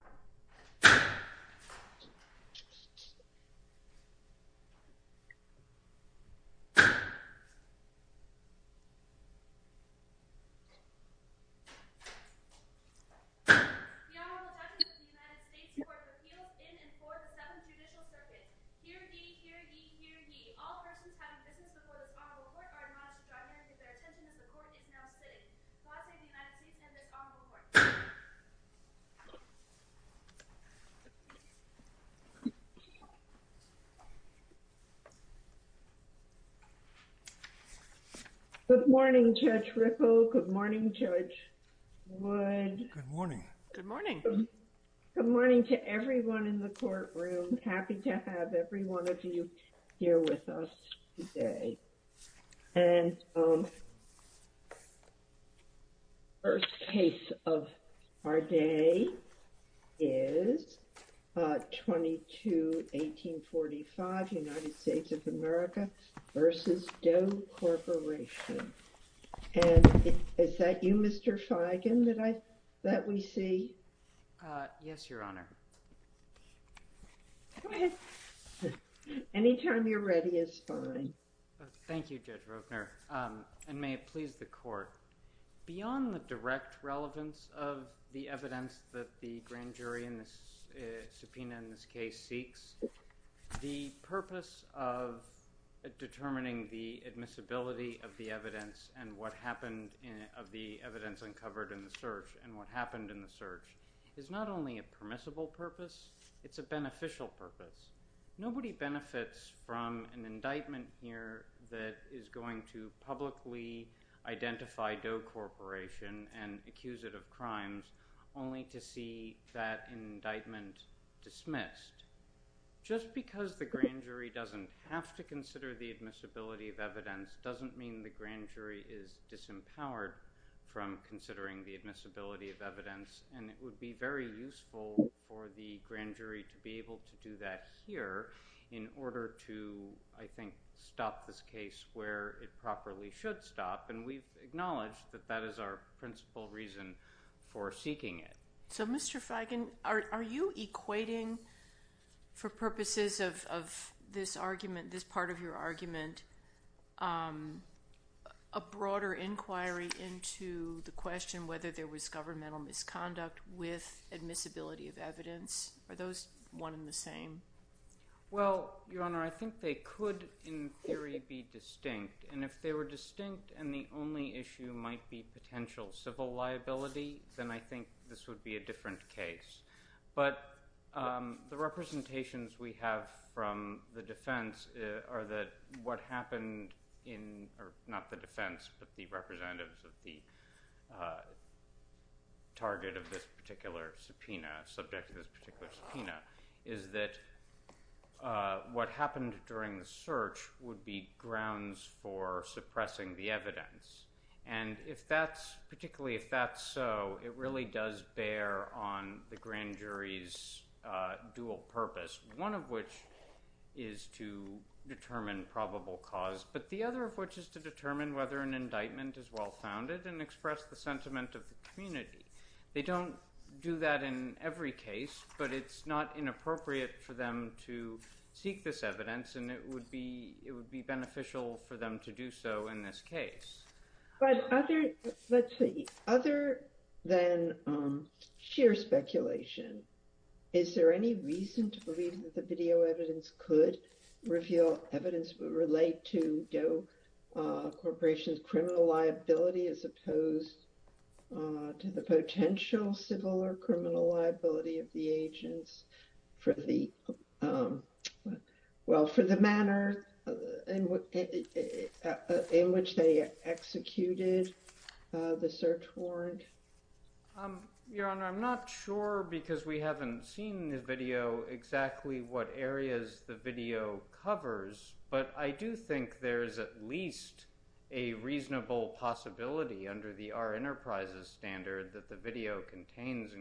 The Honorable Judge of the United States Court of Appeals in and for the 7th Judicial Circuit. Hear ye, hear ye, hear ye. All persons having business before this Honorable Court are admonished to drive their attention as the Court is now sitting. Good morning, Judge Ripple. Good morning, Judge Wood. Good morning. Good morning. Good morning to everyone in the courtroom. Happy to have every one of you here with us today. And the first case of our day is 22-1845, United States of America v. Doe Corporation. And is that you, Mr. Feigen, that we see? Yes, Your Honor. Go ahead. Any time you're ready is fine. Thank you, Judge Ropner. And may it please the Court. Beyond the direct relevance of the evidence that the grand jury in this subpoena in this case seeks, the purpose of determining the admissibility of the evidence and what happened of the evidence uncovered in the search and what happened in the search is not only a permissible purpose, it's a beneficial purpose. Nobody benefits from an indictment here that is going to publicly identify Doe Corporation and accuse it of crimes only to see that indictment dismissed. Just because the grand jury doesn't have to consider the admissibility of evidence doesn't mean the grand jury is disempowered from considering the admissibility of evidence. And it would be very useful for the grand jury to be able to do that here in order to, I think, stop this case where it properly should stop. And we've acknowledged that that is our principal reason for seeking it. So, Mr. Feigin, are you equating, for purposes of this argument, this part of your argument, a broader inquiry into the question whether there was governmental misconduct with admissibility of evidence? Are those one and the same? Well, Your Honor, I think they could, in theory, be distinct. And if they were distinct and the only issue might be potential civil liability, then I think this would be a different case. But the representations we have from the defense are that what happened in – not the defense, but the representatives of the target of this particular subpoena, subject to this particular subpoena – is that what happened during the search would be grounds for suppressing the evidence. And if that's – particularly if that's so, it really does bear on the grand jury's dual purpose, one of which is to determine probable cause, but the other of which is to determine whether an indictment is well-founded and express the sentiment of the community. They don't do that in every case, but it's not inappropriate for them to seek this evidence, and it would be beneficial for them to do so in this case. But other than sheer speculation, is there any reason to believe that the video evidence could reveal evidence that would relate to Doe Corporation's criminal liability as opposed to the potential civil or criminal liability of the agents for the – well, for the manner in which they executed the search warrant? Your Honor, I'm not sure because we haven't seen the video exactly what areas the video covers, but I do think there is at least a reasonable possibility under the Our Enterprises standard that the video contains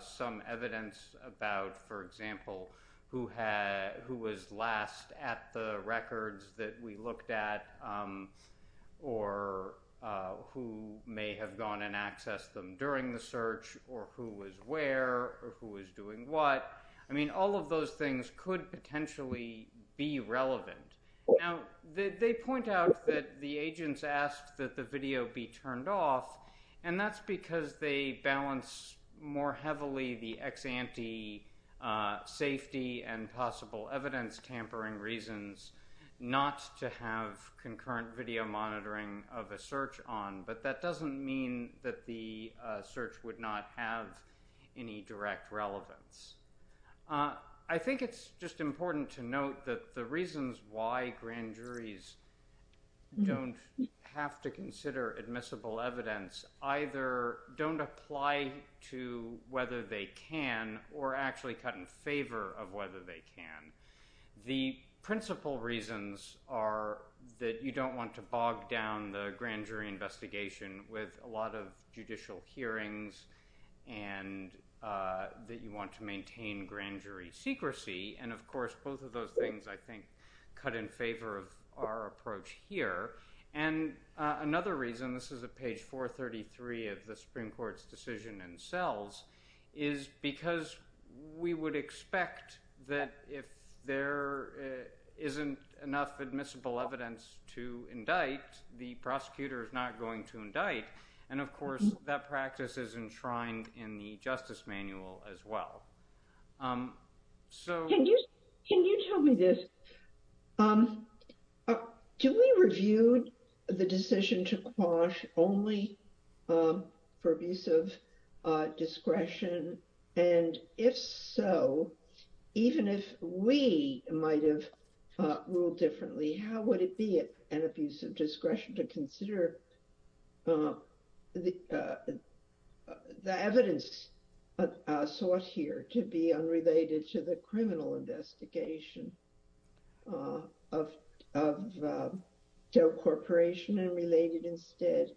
some evidence about, for example, who was last at the records that we looked at or who may have gone and accessed them during the search or who was where or who was doing what. I mean, all of those things could potentially be relevant. Now, they point out that the agents asked that the video be turned off, and that's because they balance more heavily the ex-ante safety and possible evidence tampering reasons not to have concurrent video monitoring of a search on, but that doesn't mean that the search would not have any direct relevance. I think it's just important to note that the reasons why grand juries don't have to consider admissible evidence either don't apply to whether they can or actually cut in favor of whether they can. The principal reasons are that you don't want to bog down the grand jury investigation with a lot of judicial hearings and that you want to maintain grand jury secrecy. And, of course, both of those things I think cut in favor of our approach here. And another reason, this is at page 433 of the Supreme Court's decision in cells, is because we would expect that if there isn't enough admissible evidence to indict, the prosecutor is not going to indict. And, of course, that practice is enshrined in the Justice Manual as well. So, can you tell me this? Do we review the decision to quash only for abuse of discretion? And if so, even if we might have ruled differently, how would it be an abuse of discretion to consider the evidence sought here to be unrelated to the criminal investigation of Joe Corporation and related instead,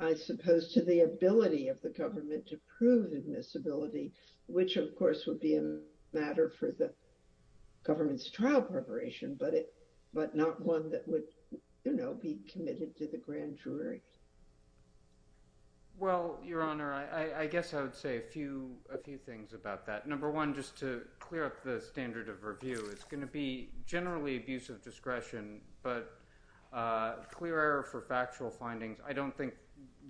I suppose, to the ability of the government to prove admissibility, which, of course, would be a matter for the government's trial preparation, but not one that would be committed to the grand jury. Well, Your Honor, I guess I would say a few things about that. Number one, just to clear up the standard of review, it's going to be generally abuse of discretion, but clear error for factual findings. I don't think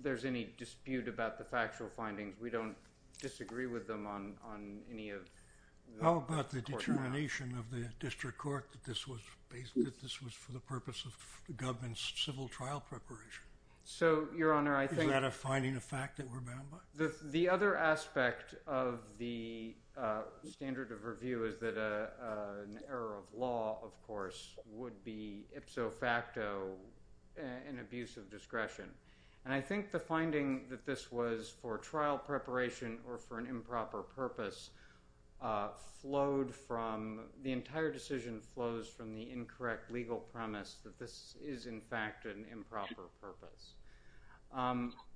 there's any dispute about the factual findings. We don't disagree with them on any of the court trials. How about the determination of the district court that this was for the purpose of the government's civil trial preparation? Is that a finding of fact that we're bound by? The other aspect of the standard of review is that an error of law, of course, would be ipso facto an abuse of discretion. And I think the finding that this was for trial preparation or for an improper purpose flowed from the entire decision flows from the incorrect legal premise that this is, in fact, an improper purpose.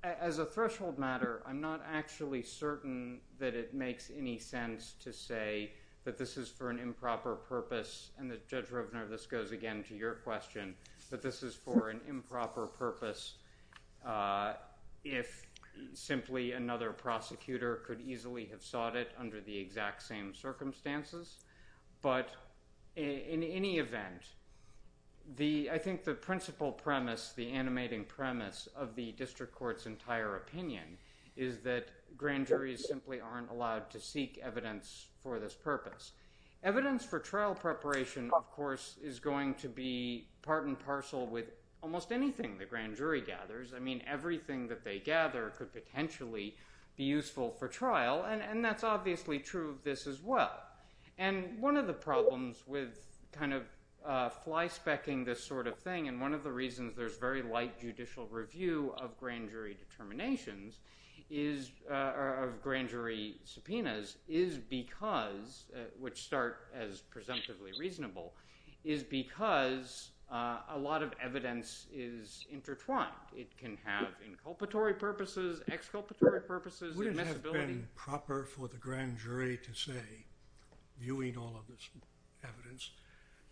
As a threshold matter, I'm not actually certain that it makes any sense to say that this is for an improper purpose. And Judge Rovner, this goes again to your question, that this is for an improper purpose if simply another prosecutor could easily have sought it under the exact same circumstances. But in any event, I think the principle premise, the animating premise of the district court's entire opinion is that grand juries simply aren't allowed to seek evidence for this purpose. Evidence for trial preparation, of course, is going to be part and parcel with almost anything the grand jury gathers. I mean, everything that they gather could potentially be useful for trial. And that's obviously true of this as well. And one of the problems with kind of flyspecking this sort of thing, and one of the reasons there's very light judicial review of grand jury determinations or of grand jury subpoenas is because, which start as presumptively reasonable, is because a lot of evidence is intertwined. It can have inculpatory purposes, exculpatory purposes, admissibility. It would have been proper for the grand jury to say, viewing all of this evidence,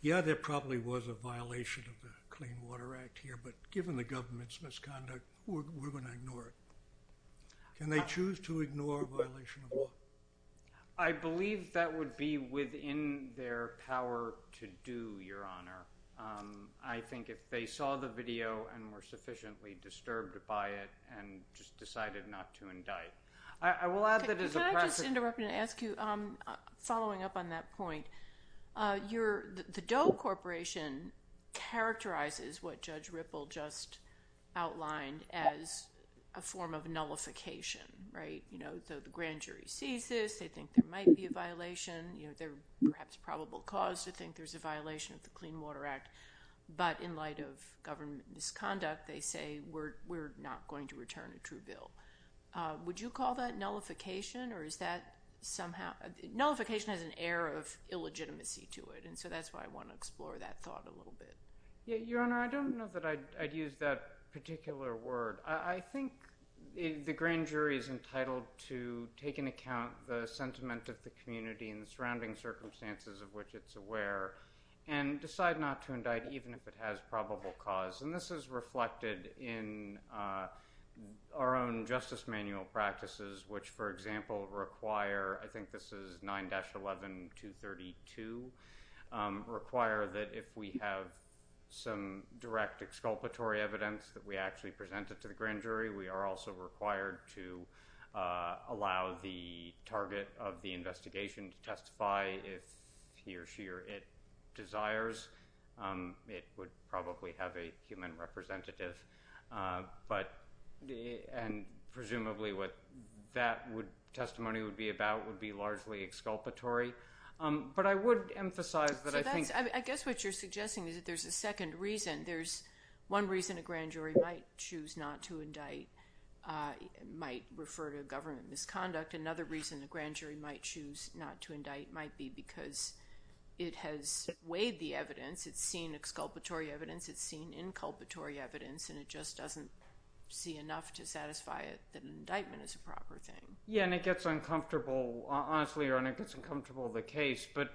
yeah, there probably was a violation of the Clean Water Act here, but given the government's misconduct, we're going to ignore it. Can they choose to ignore a violation of law? I believe that would be within their power to do, Your Honor. I think if they saw the video and were sufficiently disturbed by it and just decided not to indict. I will add that as a precedent. Can I just interrupt and ask you, following up on that point, the Doe Corporation characterizes what Judge Ripple just outlined as a form of nullification, right? You know, the grand jury sees this. They think there might be a violation. They're perhaps probable cause to think there's a violation of the Clean Water Act. But in light of government misconduct, they say, we're not going to return a true bill. Would you call that nullification, or is that somehow? Nullification has an air of illegitimacy to it, and so that's why I want to explore that thought a little bit. Yeah, Your Honor, I don't know that I'd use that particular word. I think the grand jury is entitled to take into account the sentiment of the community and the surrounding circumstances of which it's aware and decide not to indict even if it has probable cause. And this is reflected in our own justice manual practices, which, for example, require, I think this is 9-11-232, require that if we have some direct exculpatory evidence that we actually present it to the grand jury, we are also required to allow the target of the investigation to testify if he or she or it desires. It would probably have a human representative, and presumably what that testimony would be about would be largely exculpatory. I guess what you're suggesting is that there's a second reason. There's one reason a grand jury might choose not to indict, might refer to government misconduct. Another reason a grand jury might choose not to indict might be because it has weighed the evidence. It's seen exculpatory evidence. It's seen inculpatory evidence, and it just doesn't see enough to satisfy it that an indictment is a proper thing. Yeah, and it gets uncomfortable. Honestly, it gets uncomfortable, the case. But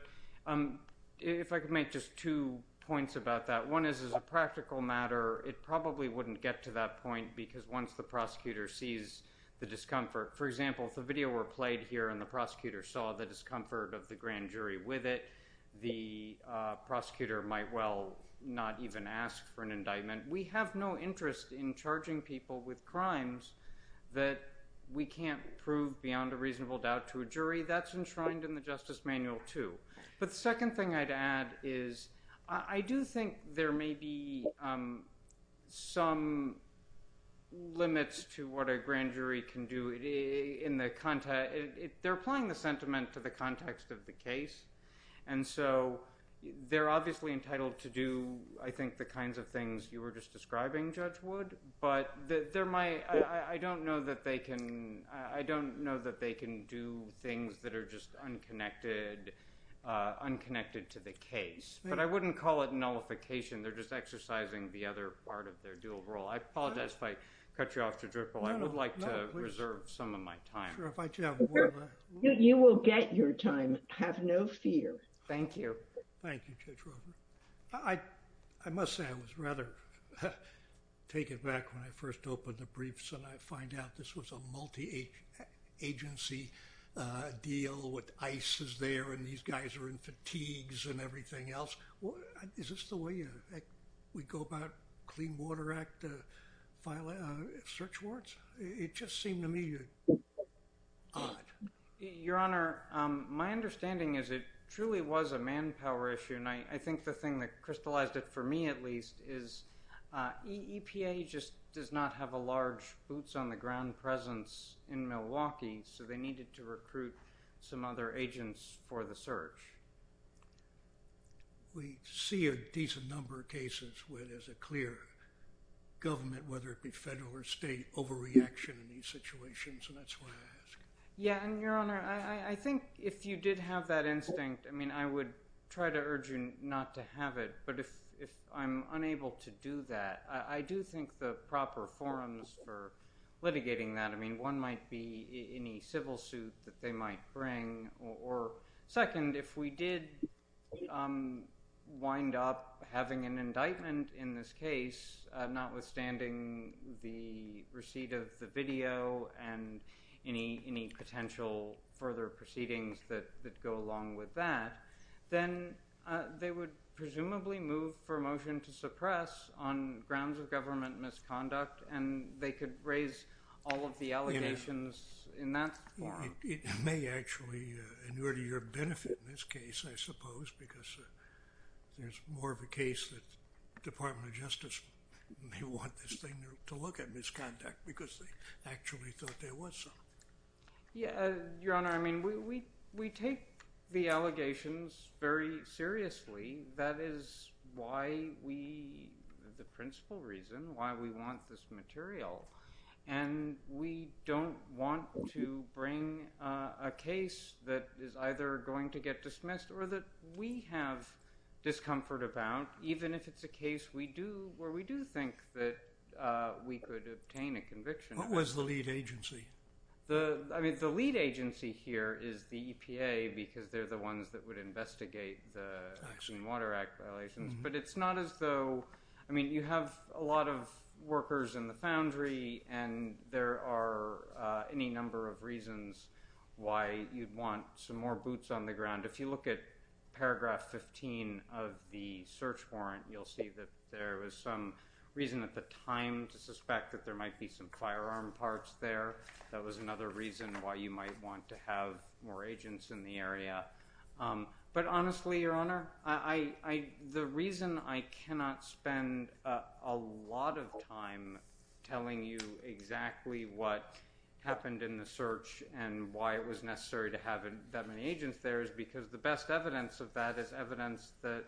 if I could make just two points about that, one is as a practical matter, it probably wouldn't get to that point because once the prosecutor sees the discomfort. For example, if the video were played here and the prosecutor saw the discomfort of the grand jury with it, the prosecutor might well not even ask for an indictment. We have no interest in charging people with crimes that we can't prove beyond a reasonable doubt to a jury. That's enshrined in the Justice Manual, too. But the second thing I'd add is I do think there may be some limits to what a grand jury can do. They're applying the sentiment to the context of the case. And so they're obviously entitled to do, I think, the kinds of things you were just describing, Judge Wood. But I don't know that they can do things that are just unconnected to the case. But I wouldn't call it nullification. They're just exercising the other part of their dual role. I apologize if I cut you off, Judge Ripple. I would like to reserve some of my time. You will get your time. Have no fear. Thank you. Thank you, Judge Ripple. I must say I was rather taken aback when I first opened the briefs and I find out this was a multi-agency deal with ICE is there and these guys are in fatigues and everything else. Is this the way we go about Clean Water Act search warrants? It just seemed to me odd. Your Honor, my understanding is it truly was a manpower issue. And I think the thing that crystallized it for me at least is EPA just does not have a large boots on the ground presence in Milwaukee. So they needed to recruit some other agents for the search. We see a decent number of cases where there's a clear government, whether it be federal or state, overreaction in these situations. And that's why I ask. Yeah. And, Your Honor, I think if you did have that instinct, I mean, I would try to urge you not to have it. But if I'm unable to do that, I do think the proper forums for litigating that, I mean, one might be any civil suit that they might bring. Or second, if we did wind up having an indictment in this case, notwithstanding the receipt of the video and any potential further proceedings that go along with that, then they would presumably move for a motion to suppress on grounds of government misconduct. And they could raise all of the allegations in that forum. It may actually be to your benefit in this case, I suppose, because there's more of a case that the Department of Justice may want this thing to look at misconduct because they actually thought there was some. Yeah. Your Honor, I mean, we take the allegations very seriously. That is why we, the principal reason why we want this material. And we don't want to bring a case that is either going to get dismissed or that we have discomfort about, even if it's a case where we do think that we could obtain a conviction. What was the lead agency? I mean, the lead agency here is the EPA because they're the ones that would investigate the Clean Water Act violations. I mean, you have a lot of workers in the foundry, and there are any number of reasons why you'd want some more boots on the ground. If you look at paragraph 15 of the search warrant, you'll see that there was some reason at the time to suspect that there might be some firearm parts there. That was another reason why you might want to have more agents in the area. But honestly, Your Honor, the reason I cannot spend a lot of time telling you exactly what happened in the search and why it was necessary to have that many agents there is because the best evidence of that is evidence that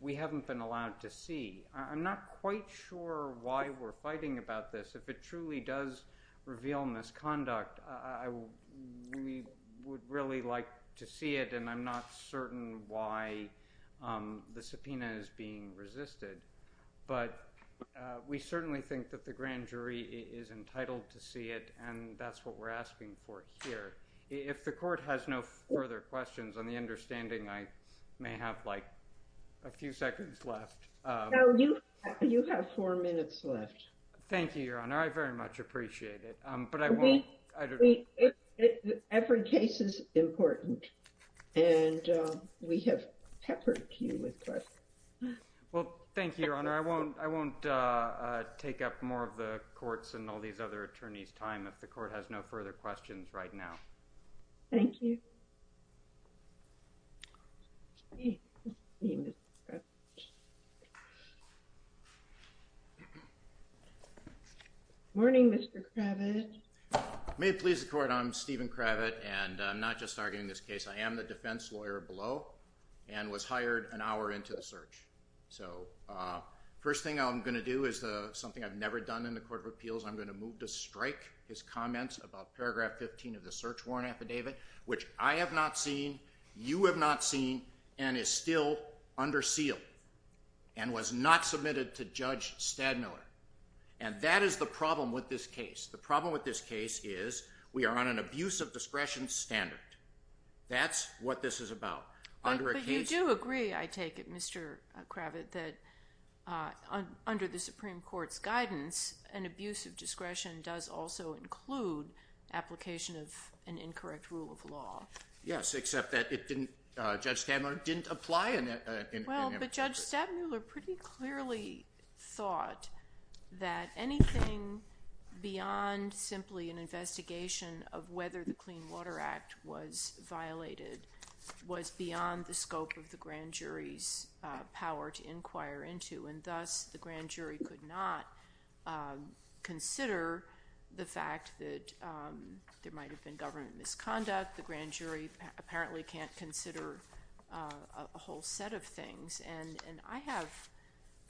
we haven't been allowed to see. I'm not quite sure why we're fighting about this. If it truly does reveal misconduct, we would really like to see it, and I'm not certain why the subpoena is being resisted. But we certainly think that the grand jury is entitled to see it, and that's what we're asking for here. If the court has no further questions, on the understanding I may have, like, a few seconds left. No, you have four minutes left. Thank you, Your Honor. I very much appreciate it, but I won't. Every case is important, and we have peppered you with questions. Well, thank you, Your Honor. I won't take up more of the court's and all these other attorneys' time if the court has no further questions right now. Thank you. Morning, Mr. Kravitz. May it please the Court, I'm Stephen Kravitz, and I'm not just arguing this case. I am the defense lawyer below and was hired an hour into the search. So the first thing I'm going to do is something I've never done in the Court of Appeals. I'm going to move to strike his comments about paragraph 15 of the search warrant affidavit, which I have not seen, you have not seen, and is still under seal and was not submitted to Judge Stadmiller. And that is the problem with this case. The problem with this case is we are on an abuse of discretion standard. That's what this is about. But you do agree, I take it, Mr. Kravitz, that under the Supreme Court's guidance, an abuse of discretion does also include application of an incorrect rule of law. Yes, except that it didn't, Judge Stadmiller didn't apply an error. Well, but Judge Stadmiller pretty clearly thought that anything beyond simply an investigation of whether the Clean Water Act was violated was beyond the scope of the grand jury's power to inquire into. And thus the grand jury could not consider the fact that there might have been government misconduct. The grand jury apparently can't consider a whole set of things. And I have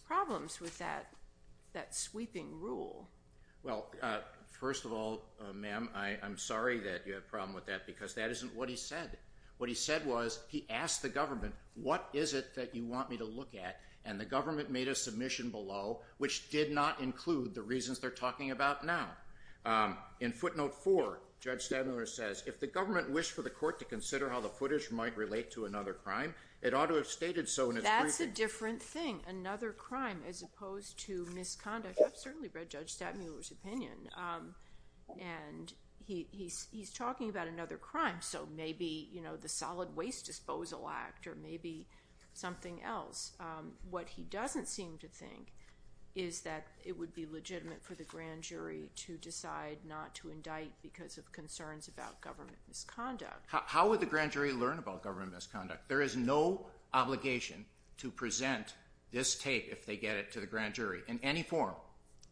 problems with that sweeping rule. Well, first of all, ma'am, I'm sorry that you have a problem with that because that isn't what he said. What he said was he asked the government, what is it that you want me to look at? And the government made a submission below which did not include the reasons they're talking about now. In footnote four, Judge Stadmiller says, if the government wished for the court to consider how the footage might relate to another crime, it ought to have stated so in its briefing. That's a different thing, another crime, as opposed to misconduct. And he's talking about another crime. So maybe, you know, the Solid Waste Disposal Act or maybe something else. What he doesn't seem to think is that it would be legitimate for the grand jury to decide not to indict because of concerns about government misconduct. How would the grand jury learn about government misconduct? There is no obligation to present this tape if they get it to the grand jury in any form.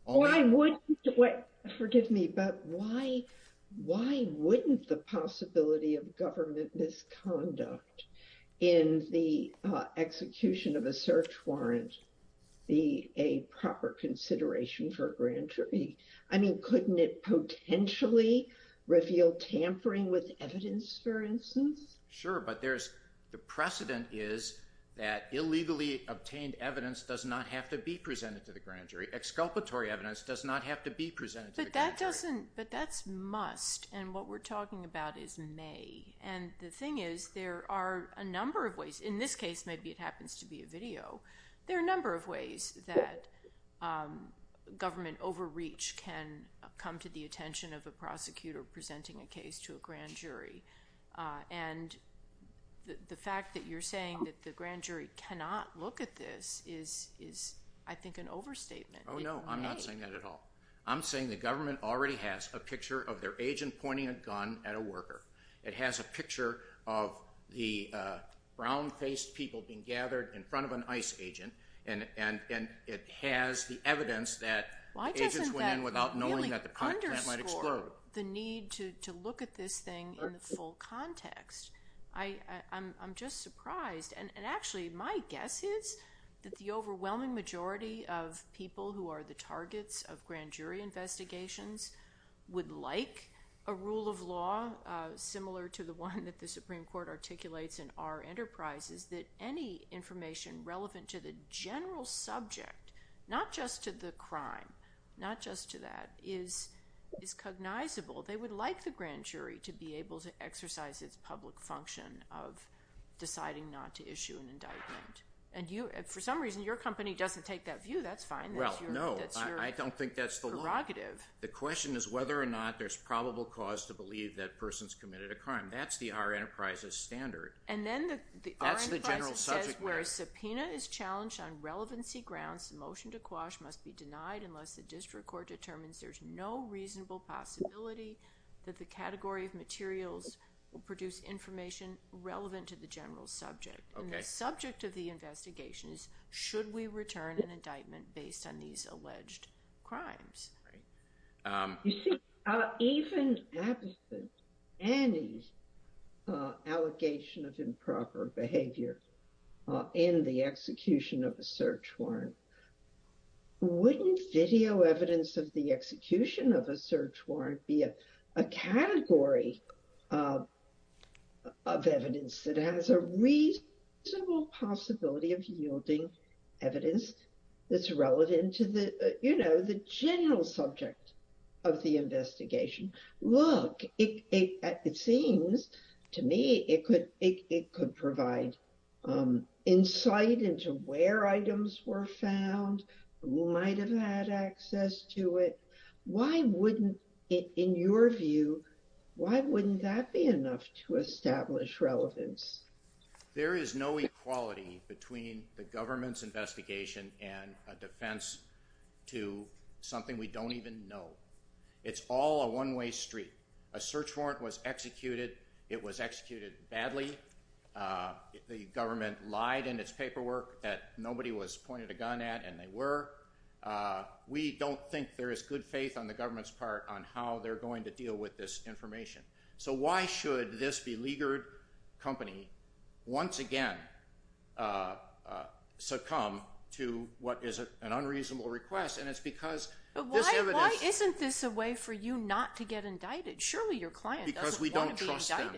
Why wouldn't the possibility of government misconduct in the execution of a search warrant be a proper consideration for a grand jury? I mean, couldn't it potentially reveal tampering with evidence, for instance? Sure, but the precedent is that illegally obtained evidence does not have to be presented to the grand jury. Exculpatory evidence does not have to be presented to the grand jury. But that's must, and what we're talking about is may. And the thing is, there are a number of ways. In this case, maybe it happens to be a video. There are a number of ways that government overreach can come to the attention of a prosecutor presenting a case to a grand jury. And the fact that you're saying that the grand jury cannot look at this is, I think, an overstatement. Oh, no, I'm not saying that at all. I'm saying the government already has a picture of their agent pointing a gun at a worker. It has a picture of the brown-faced people being gathered in front of an ICE agent. And it has the evidence that agents went in without knowing that the plant might explode. So, the need to look at this thing in the full context, I'm just surprised. And, actually, my guess is that the overwhelming majority of people who are the targets of grand jury investigations would like a rule of law similar to the one that the Supreme Court articulates in our enterprises, that any information relevant to the general subject, not just to the crime, not just to that, is cognizable. They would like the grand jury to be able to exercise its public function of deciding not to issue an indictment. And, for some reason, your company doesn't take that view. That's fine. That's your prerogative. Well, no, I don't think that's the law. The question is whether or not there's probable cause to believe that person's committed a crime. That's the our enterprise's standard. And then the enterprise says, whereas subpoena is challenged on relevancy grounds, the motion to quash must be denied unless the district court determines there's no reasonable possibility that the category of materials will produce information relevant to the general subject. And the subject of the investigation is, should we return an indictment based on these alleged crimes? You see, even absent any allegation of improper behavior in the execution of a search warrant, wouldn't video evidence of the execution of a search warrant be a category of evidence that has a reasonable possibility of yielding evidence that's relevant to the, you know, general subject of the investigation? Look, it seems to me it could provide insight into where items were found, who might have had access to it. Why wouldn't, in your view, why wouldn't that be enough to establish relevance? There is no equality between the government's investigation and a defense to something we don't even know. It's all a one-way street. A search warrant was executed. It was executed badly. The government lied in its paperwork that nobody was pointed a gun at, and they were. We don't think there is good faith on the government's part on how they're going to deal with this information. So why should this beleaguered company once again succumb to what is an unreasonable request? And it's because this evidence— But why isn't this a way for you not to get indicted? Surely your client doesn't want to be indicted. Because we don't trust them.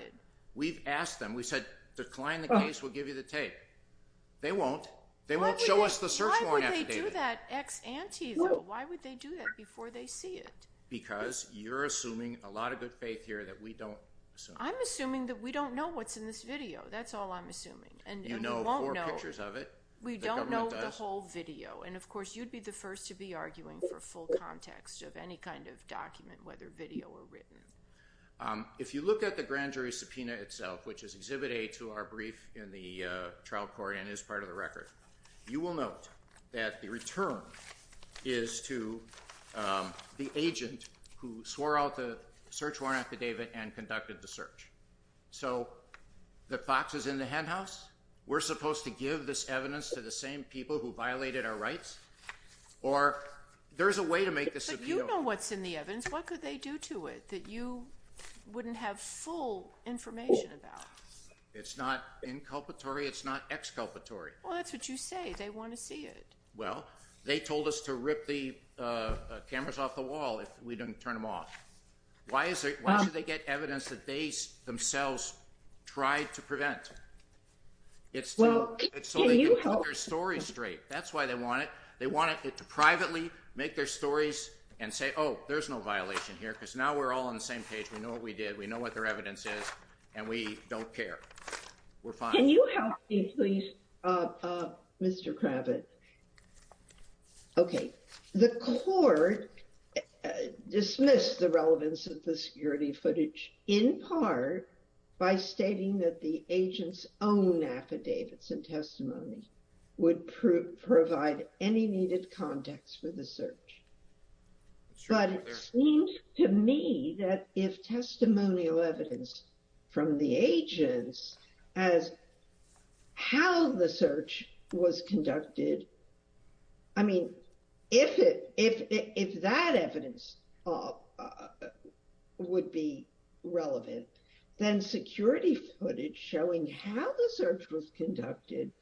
We've asked them. We said, decline the case. We'll give you the tape. They won't. They won't show us the search warrant affidavit. Why would they do that ex ante, though? Why would they do that before they see it? Because you're assuming a lot of good faith here that we don't assume. I'm assuming that we don't know what's in this video. That's all I'm assuming. You know four pictures of it. We don't know the whole video. And, of course, you'd be the first to be arguing for full context of any kind of document, whether video or written. If you look at the grand jury subpoena itself, which is Exhibit A to our brief in the trial court and is part of the record, you will note that the return is to the agent who swore out the search warrant affidavit and conducted the search. So the fox is in the henhouse? We're supposed to give this evidence to the same people who violated our rights? Or there's a way to make this subpoena work. But you know what's in the evidence. What could they do to it that you wouldn't have full information about? It's not inculpatory. It's not exculpatory. Well, that's what you say. They want to see it. Well, they told us to rip the cameras off the wall if we didn't turn them off. Why should they get evidence that they themselves tried to prevent? It's so they can put their story straight. That's why they want it. They want it to privately make their stories and say, oh, there's no violation here because now we're all on the same page. We know what we did. We know what their evidence is, and we don't care. We're fine. Can you help me, please, Mr. Kravitz? Okay. The court dismissed the relevance of the security footage in part by stating that the agent's own affidavits and testimony would provide any needed context for the search. But it seems to me that if testimonial evidence from the agents as how the search was conducted, I mean, if that evidence would be relevant, then security footage showing how the search was conducted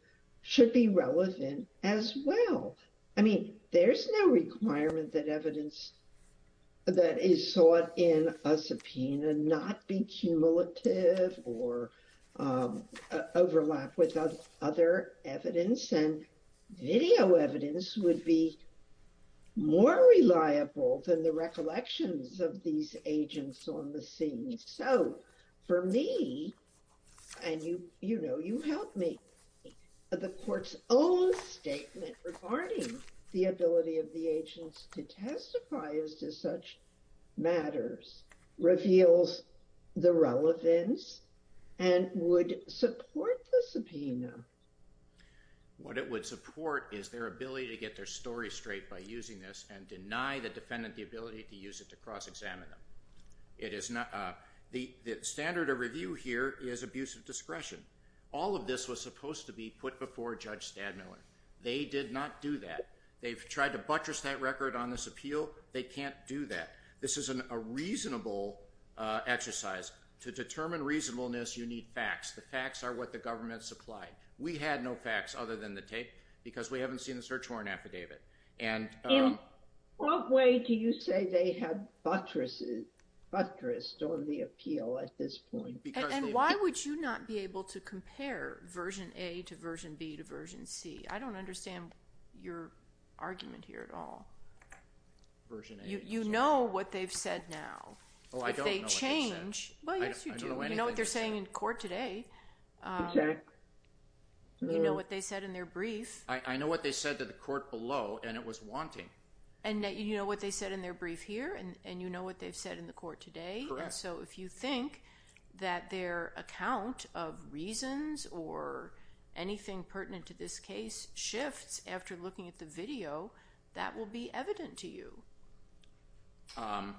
should be relevant as well. I mean, there's no requirement that evidence that is sought in a subpoena not be cumulative or overlap with other evidence. And video evidence would be more reliable than the recollections of these agents on the scene. So for me, and you help me, the court's own statement regarding the ability of the agents to testify as to such matters reveals the relevance and would support the subpoena. What it would support is their ability to get their story straight by using this and deny the defendant the ability to use it to cross-examine them. The standard of review here is abuse of discretion. All of this was supposed to be put before Judge Stadmiller. They did not do that. They've tried to buttress that record on this appeal. They can't do that. This is a reasonable exercise. To determine reasonableness, you need facts. The facts are what the government supplied. We had no facts other than the tape because we haven't seen the search warrant affidavit. In what way do you say they have buttressed on the appeal at this point? And why would you not be able to compare version A to version B to version C? I don't understand your argument here at all. Version A. You know what they've said now. Oh, I don't know what they've said. Well, yes, you do. You know what they're saying in court today. Exactly. You know what they said in their brief. I know what they said to the court below, and it was wanting. And you know what they said in their brief here, and you know what they've said in the court today. Correct. So if you think that their account of reasons or anything pertinent to this case shifts after looking at the video, that will be evident to you. I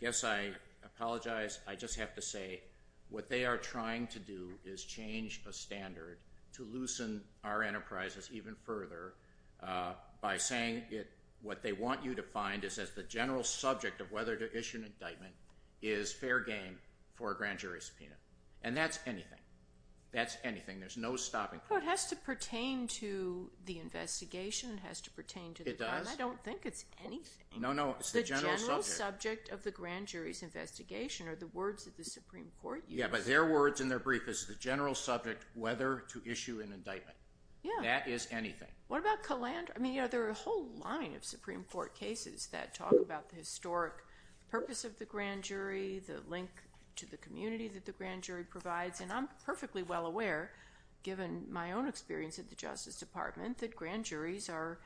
guess I apologize. I just have to say what they are trying to do is change a standard to loosen our enterprises even further by saying what they want you to find is that the general subject of whether to issue an indictment is fair game for a grand jury subpoena. And that's anything. That's anything. There's no stopping. Well, it has to pertain to the investigation. It has to pertain to the trial. It does. I don't think it's anything. No, no, it's the general subject. The general subject of the grand jury's investigation are the words of the Supreme Court. Yeah, but their words in their brief is the general subject whether to issue an indictment. Yeah. That is anything. What about Calandra? I mean, you know, there are a whole line of Supreme Court cases that talk about the historic purpose of the grand jury, the link to the community that the grand jury provides. And I'm perfectly well aware, given my own experience at the Justice Department, that grand juries are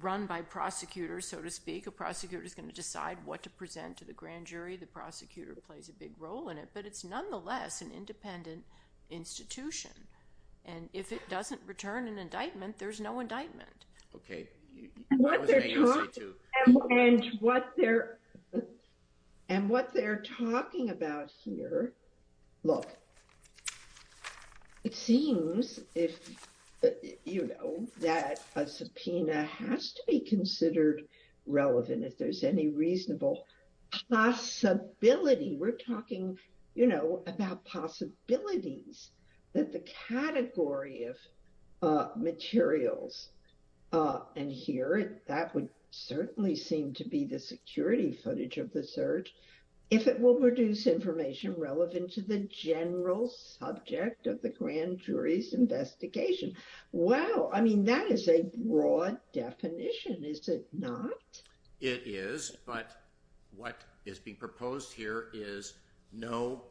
run by prosecutors, so to speak. A prosecutor is going to decide what to present to the grand jury. The prosecutor plays a big role in it. But it's nonetheless an independent institution. And if it doesn't return an indictment, there's no indictment. Okay. And what they're talking about here, look, it seems that a subpoena has to be considered relevant if there's any reasonable possibility. We're talking, you know, about possibilities that the category of materials, and here that would certainly seem to be the security footage of the search, if it will produce information relevant to the general subject of the grand jury's investigation. Wow. I mean, that is a broad definition, is it not? It is. But what is being proposed here is know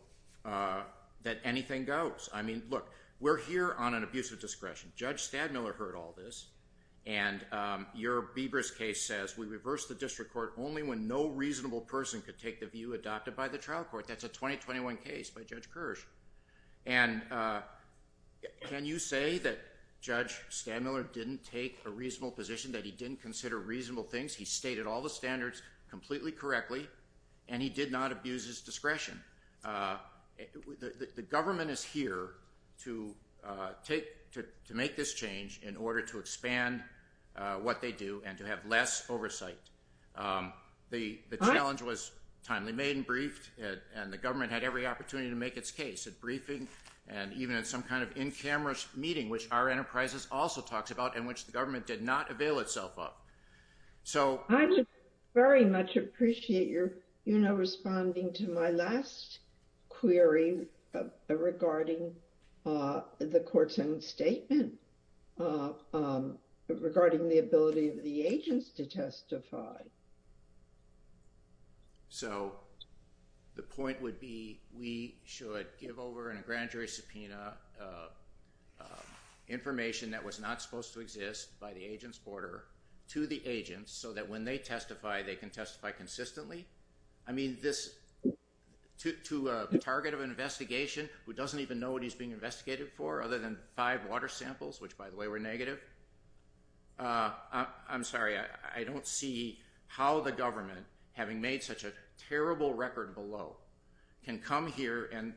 that anything goes. I mean, look, we're here on an abuse of discretion. Judge Stadmiller heard all this. And your Biebers case says, we reversed the district court only when no reasonable person could take the view adopted by the trial court. That's a 2021 case by Judge Kirsch. And can you say that Judge Stadmiller didn't take a reasonable position, that he didn't consider reasonable things? He stated all the standards completely correctly, and he did not abuse his discretion. The government is here to make this change in order to expand what they do and to have less oversight. The challenge was timely made and briefed, and the government had every opportunity to make its case at briefing and even at some kind of in-camera meeting, which our enterprises also talks about and which the government did not avail itself of. I very much appreciate your responding to my last query regarding the court's own statement regarding the ability of the agents to testify. So the point would be, we should give over in a grand jury subpoena information that was not supposed to exist by the agent's order to the agents so that when they testify, they can testify consistently. I mean, this to a target of an investigation who doesn't even know what he's being investigated for other than five water samples, which, by the way, were negative. I'm sorry, I don't see how the government, having made such a terrible record below, can come here and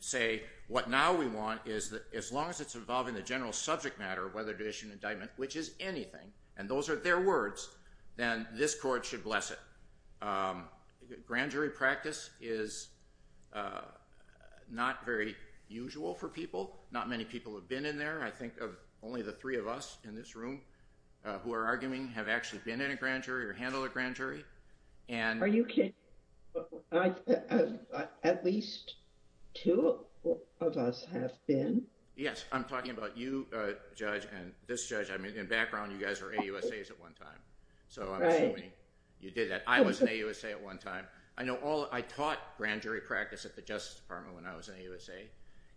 say what now we want is that as long as it's involving the general subject matter, whether to issue an indictment, which is anything, and those are their words, then this court should bless it. Grand jury practice is not very usual for people. Not many people have been in there. I think of only the three of us in this room who are arguing have actually been in a grand jury or handled a grand jury. Are you kidding? At least two of us have been. Yes, I'm talking about you, Judge, and this judge. I mean, in background, you guys are AUSAs at one time. Right. So I'm assuming you did that. I was an AUSA at one time. I taught grand jury practice at the Justice Department when I was an AUSA,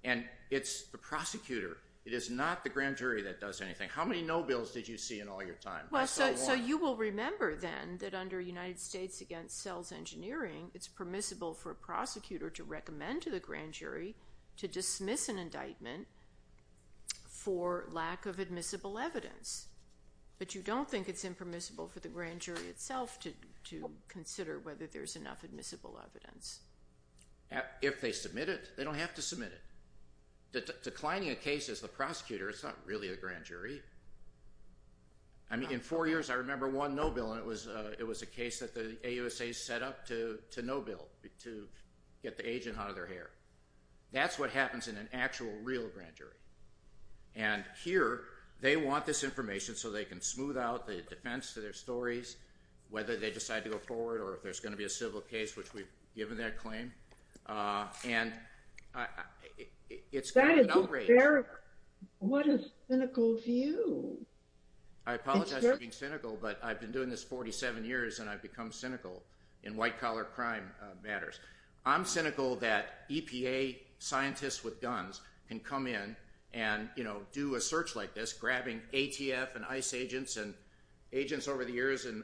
and it's the prosecutor. It is not the grand jury that does anything. How many no bills did you see in all your time? Well, so you will remember then that under United States Against Cells Engineering, it's permissible for a prosecutor to recommend to the grand jury to dismiss an indictment for lack of admissible evidence. But you don't think it's impermissible for the grand jury itself to consider whether there's enough admissible evidence. If they submit it, they don't have to submit it. Declining a case as the prosecutor is not really a grand jury. I mean, in four years, I remember one no bill, and it was a case that the AUSAs set up to no bill, to get the agent out of their hair. That's what happens in an actual real grand jury. And here, they want this information so they can smooth out the defense to their stories, whether they decide to go forward or if there's going to be a civil case, which we've given that claim. And it's kind of an outrage. That is hysterical. What a cynical view. I apologize for being cynical, but I've been doing this 47 years, and I've become cynical in white-collar crime matters. I'm cynical that EPA scientists with guns can come in and do a search like this, grabbing ATF and ICE agents. And agents over the years, in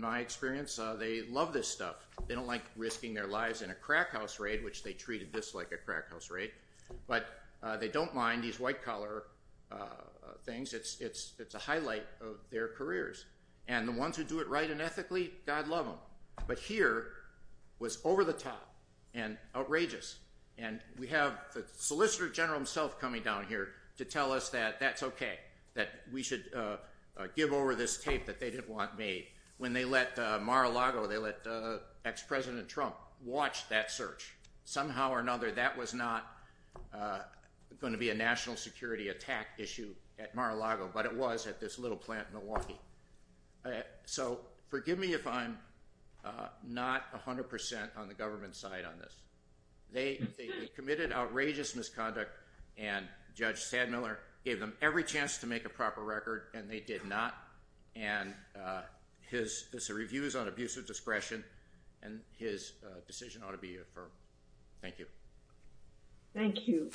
my experience, they love this stuff. They don't like risking their lives in a crack house raid, which they treated this like a crack house raid. But they don't mind these white-collar things. It's a highlight of their careers. And the ones who do it right and ethically, God love them. But here, it was over the top and outrageous. And we have the Solicitor General himself coming down here to tell us that that's okay, that we should give over this tape that they didn't want made. When they let Mar-a-Lago, they let ex-President Trump watch that search. Somehow or another, that was not going to be a national security attack issue at Mar-a-Lago, but it was at this little plant in Milwaukee. So forgive me if I'm not 100% on the government side on this. They committed outrageous misconduct, and Judge Sandmiller gave them every chance to make a proper record, and they did not. And this is a review on abuse of discretion, and his decision ought to be affirmed. Thank you. Thank you.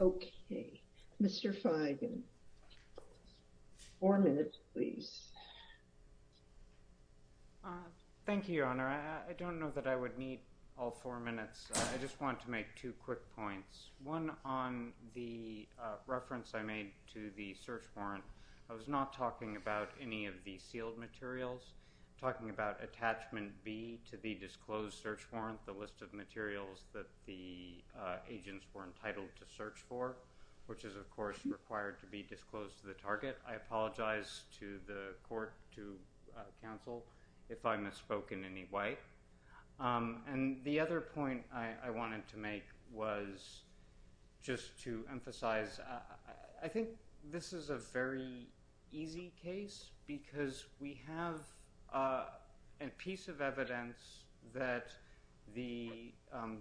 Okay. Mr. Feigin. Four minutes, please. Thank you, Your Honor. I don't know that I would need all four minutes. I just want to make two quick points. One, on the reference I made to the search warrant, I was not talking about any of the sealed materials. I'm talking about attachment B to the disclosed search warrant, the list of materials that the agents were entitled to search for, which is, of course, required to be disclosed to the target. I apologize to the court, to counsel, if I misspoke in any way. And the other point I wanted to make was just to emphasize, I think this is a very easy case because we have a piece of evidence that the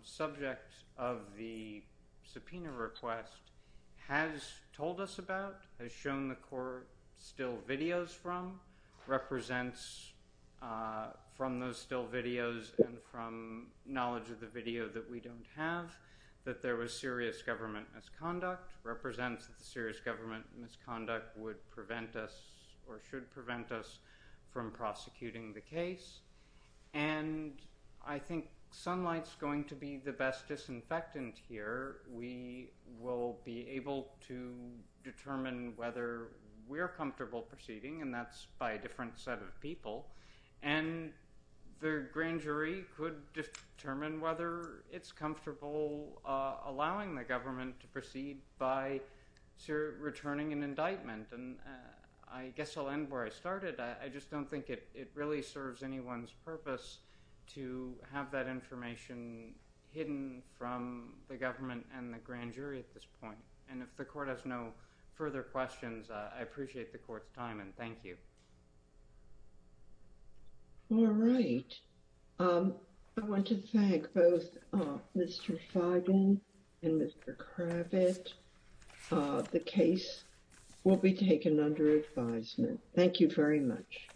subject of the subpoena request has told us about, has shown the court still videos from, represents from those still videos and from knowledge of the video that we don't have that there was serious government misconduct, represents that the serious government misconduct would prevent us or should prevent us from prosecuting the case. And I think sunlight's going to be the best disinfectant here. We will be able to determine whether we're comfortable proceeding, and that's by a different set of people. And the grand jury could determine whether it's comfortable allowing the government to proceed by returning an indictment. And I guess I'll end where I started. I just don't think it really serves anyone's purpose to have that information hidden from the government and the grand jury at this point. And if the court has no further questions, I appreciate the court's time. And thank you. All right. I want to thank both Mr. Feigen and Mr. Kravitz. The case will be taken under advisement. Thank you very much.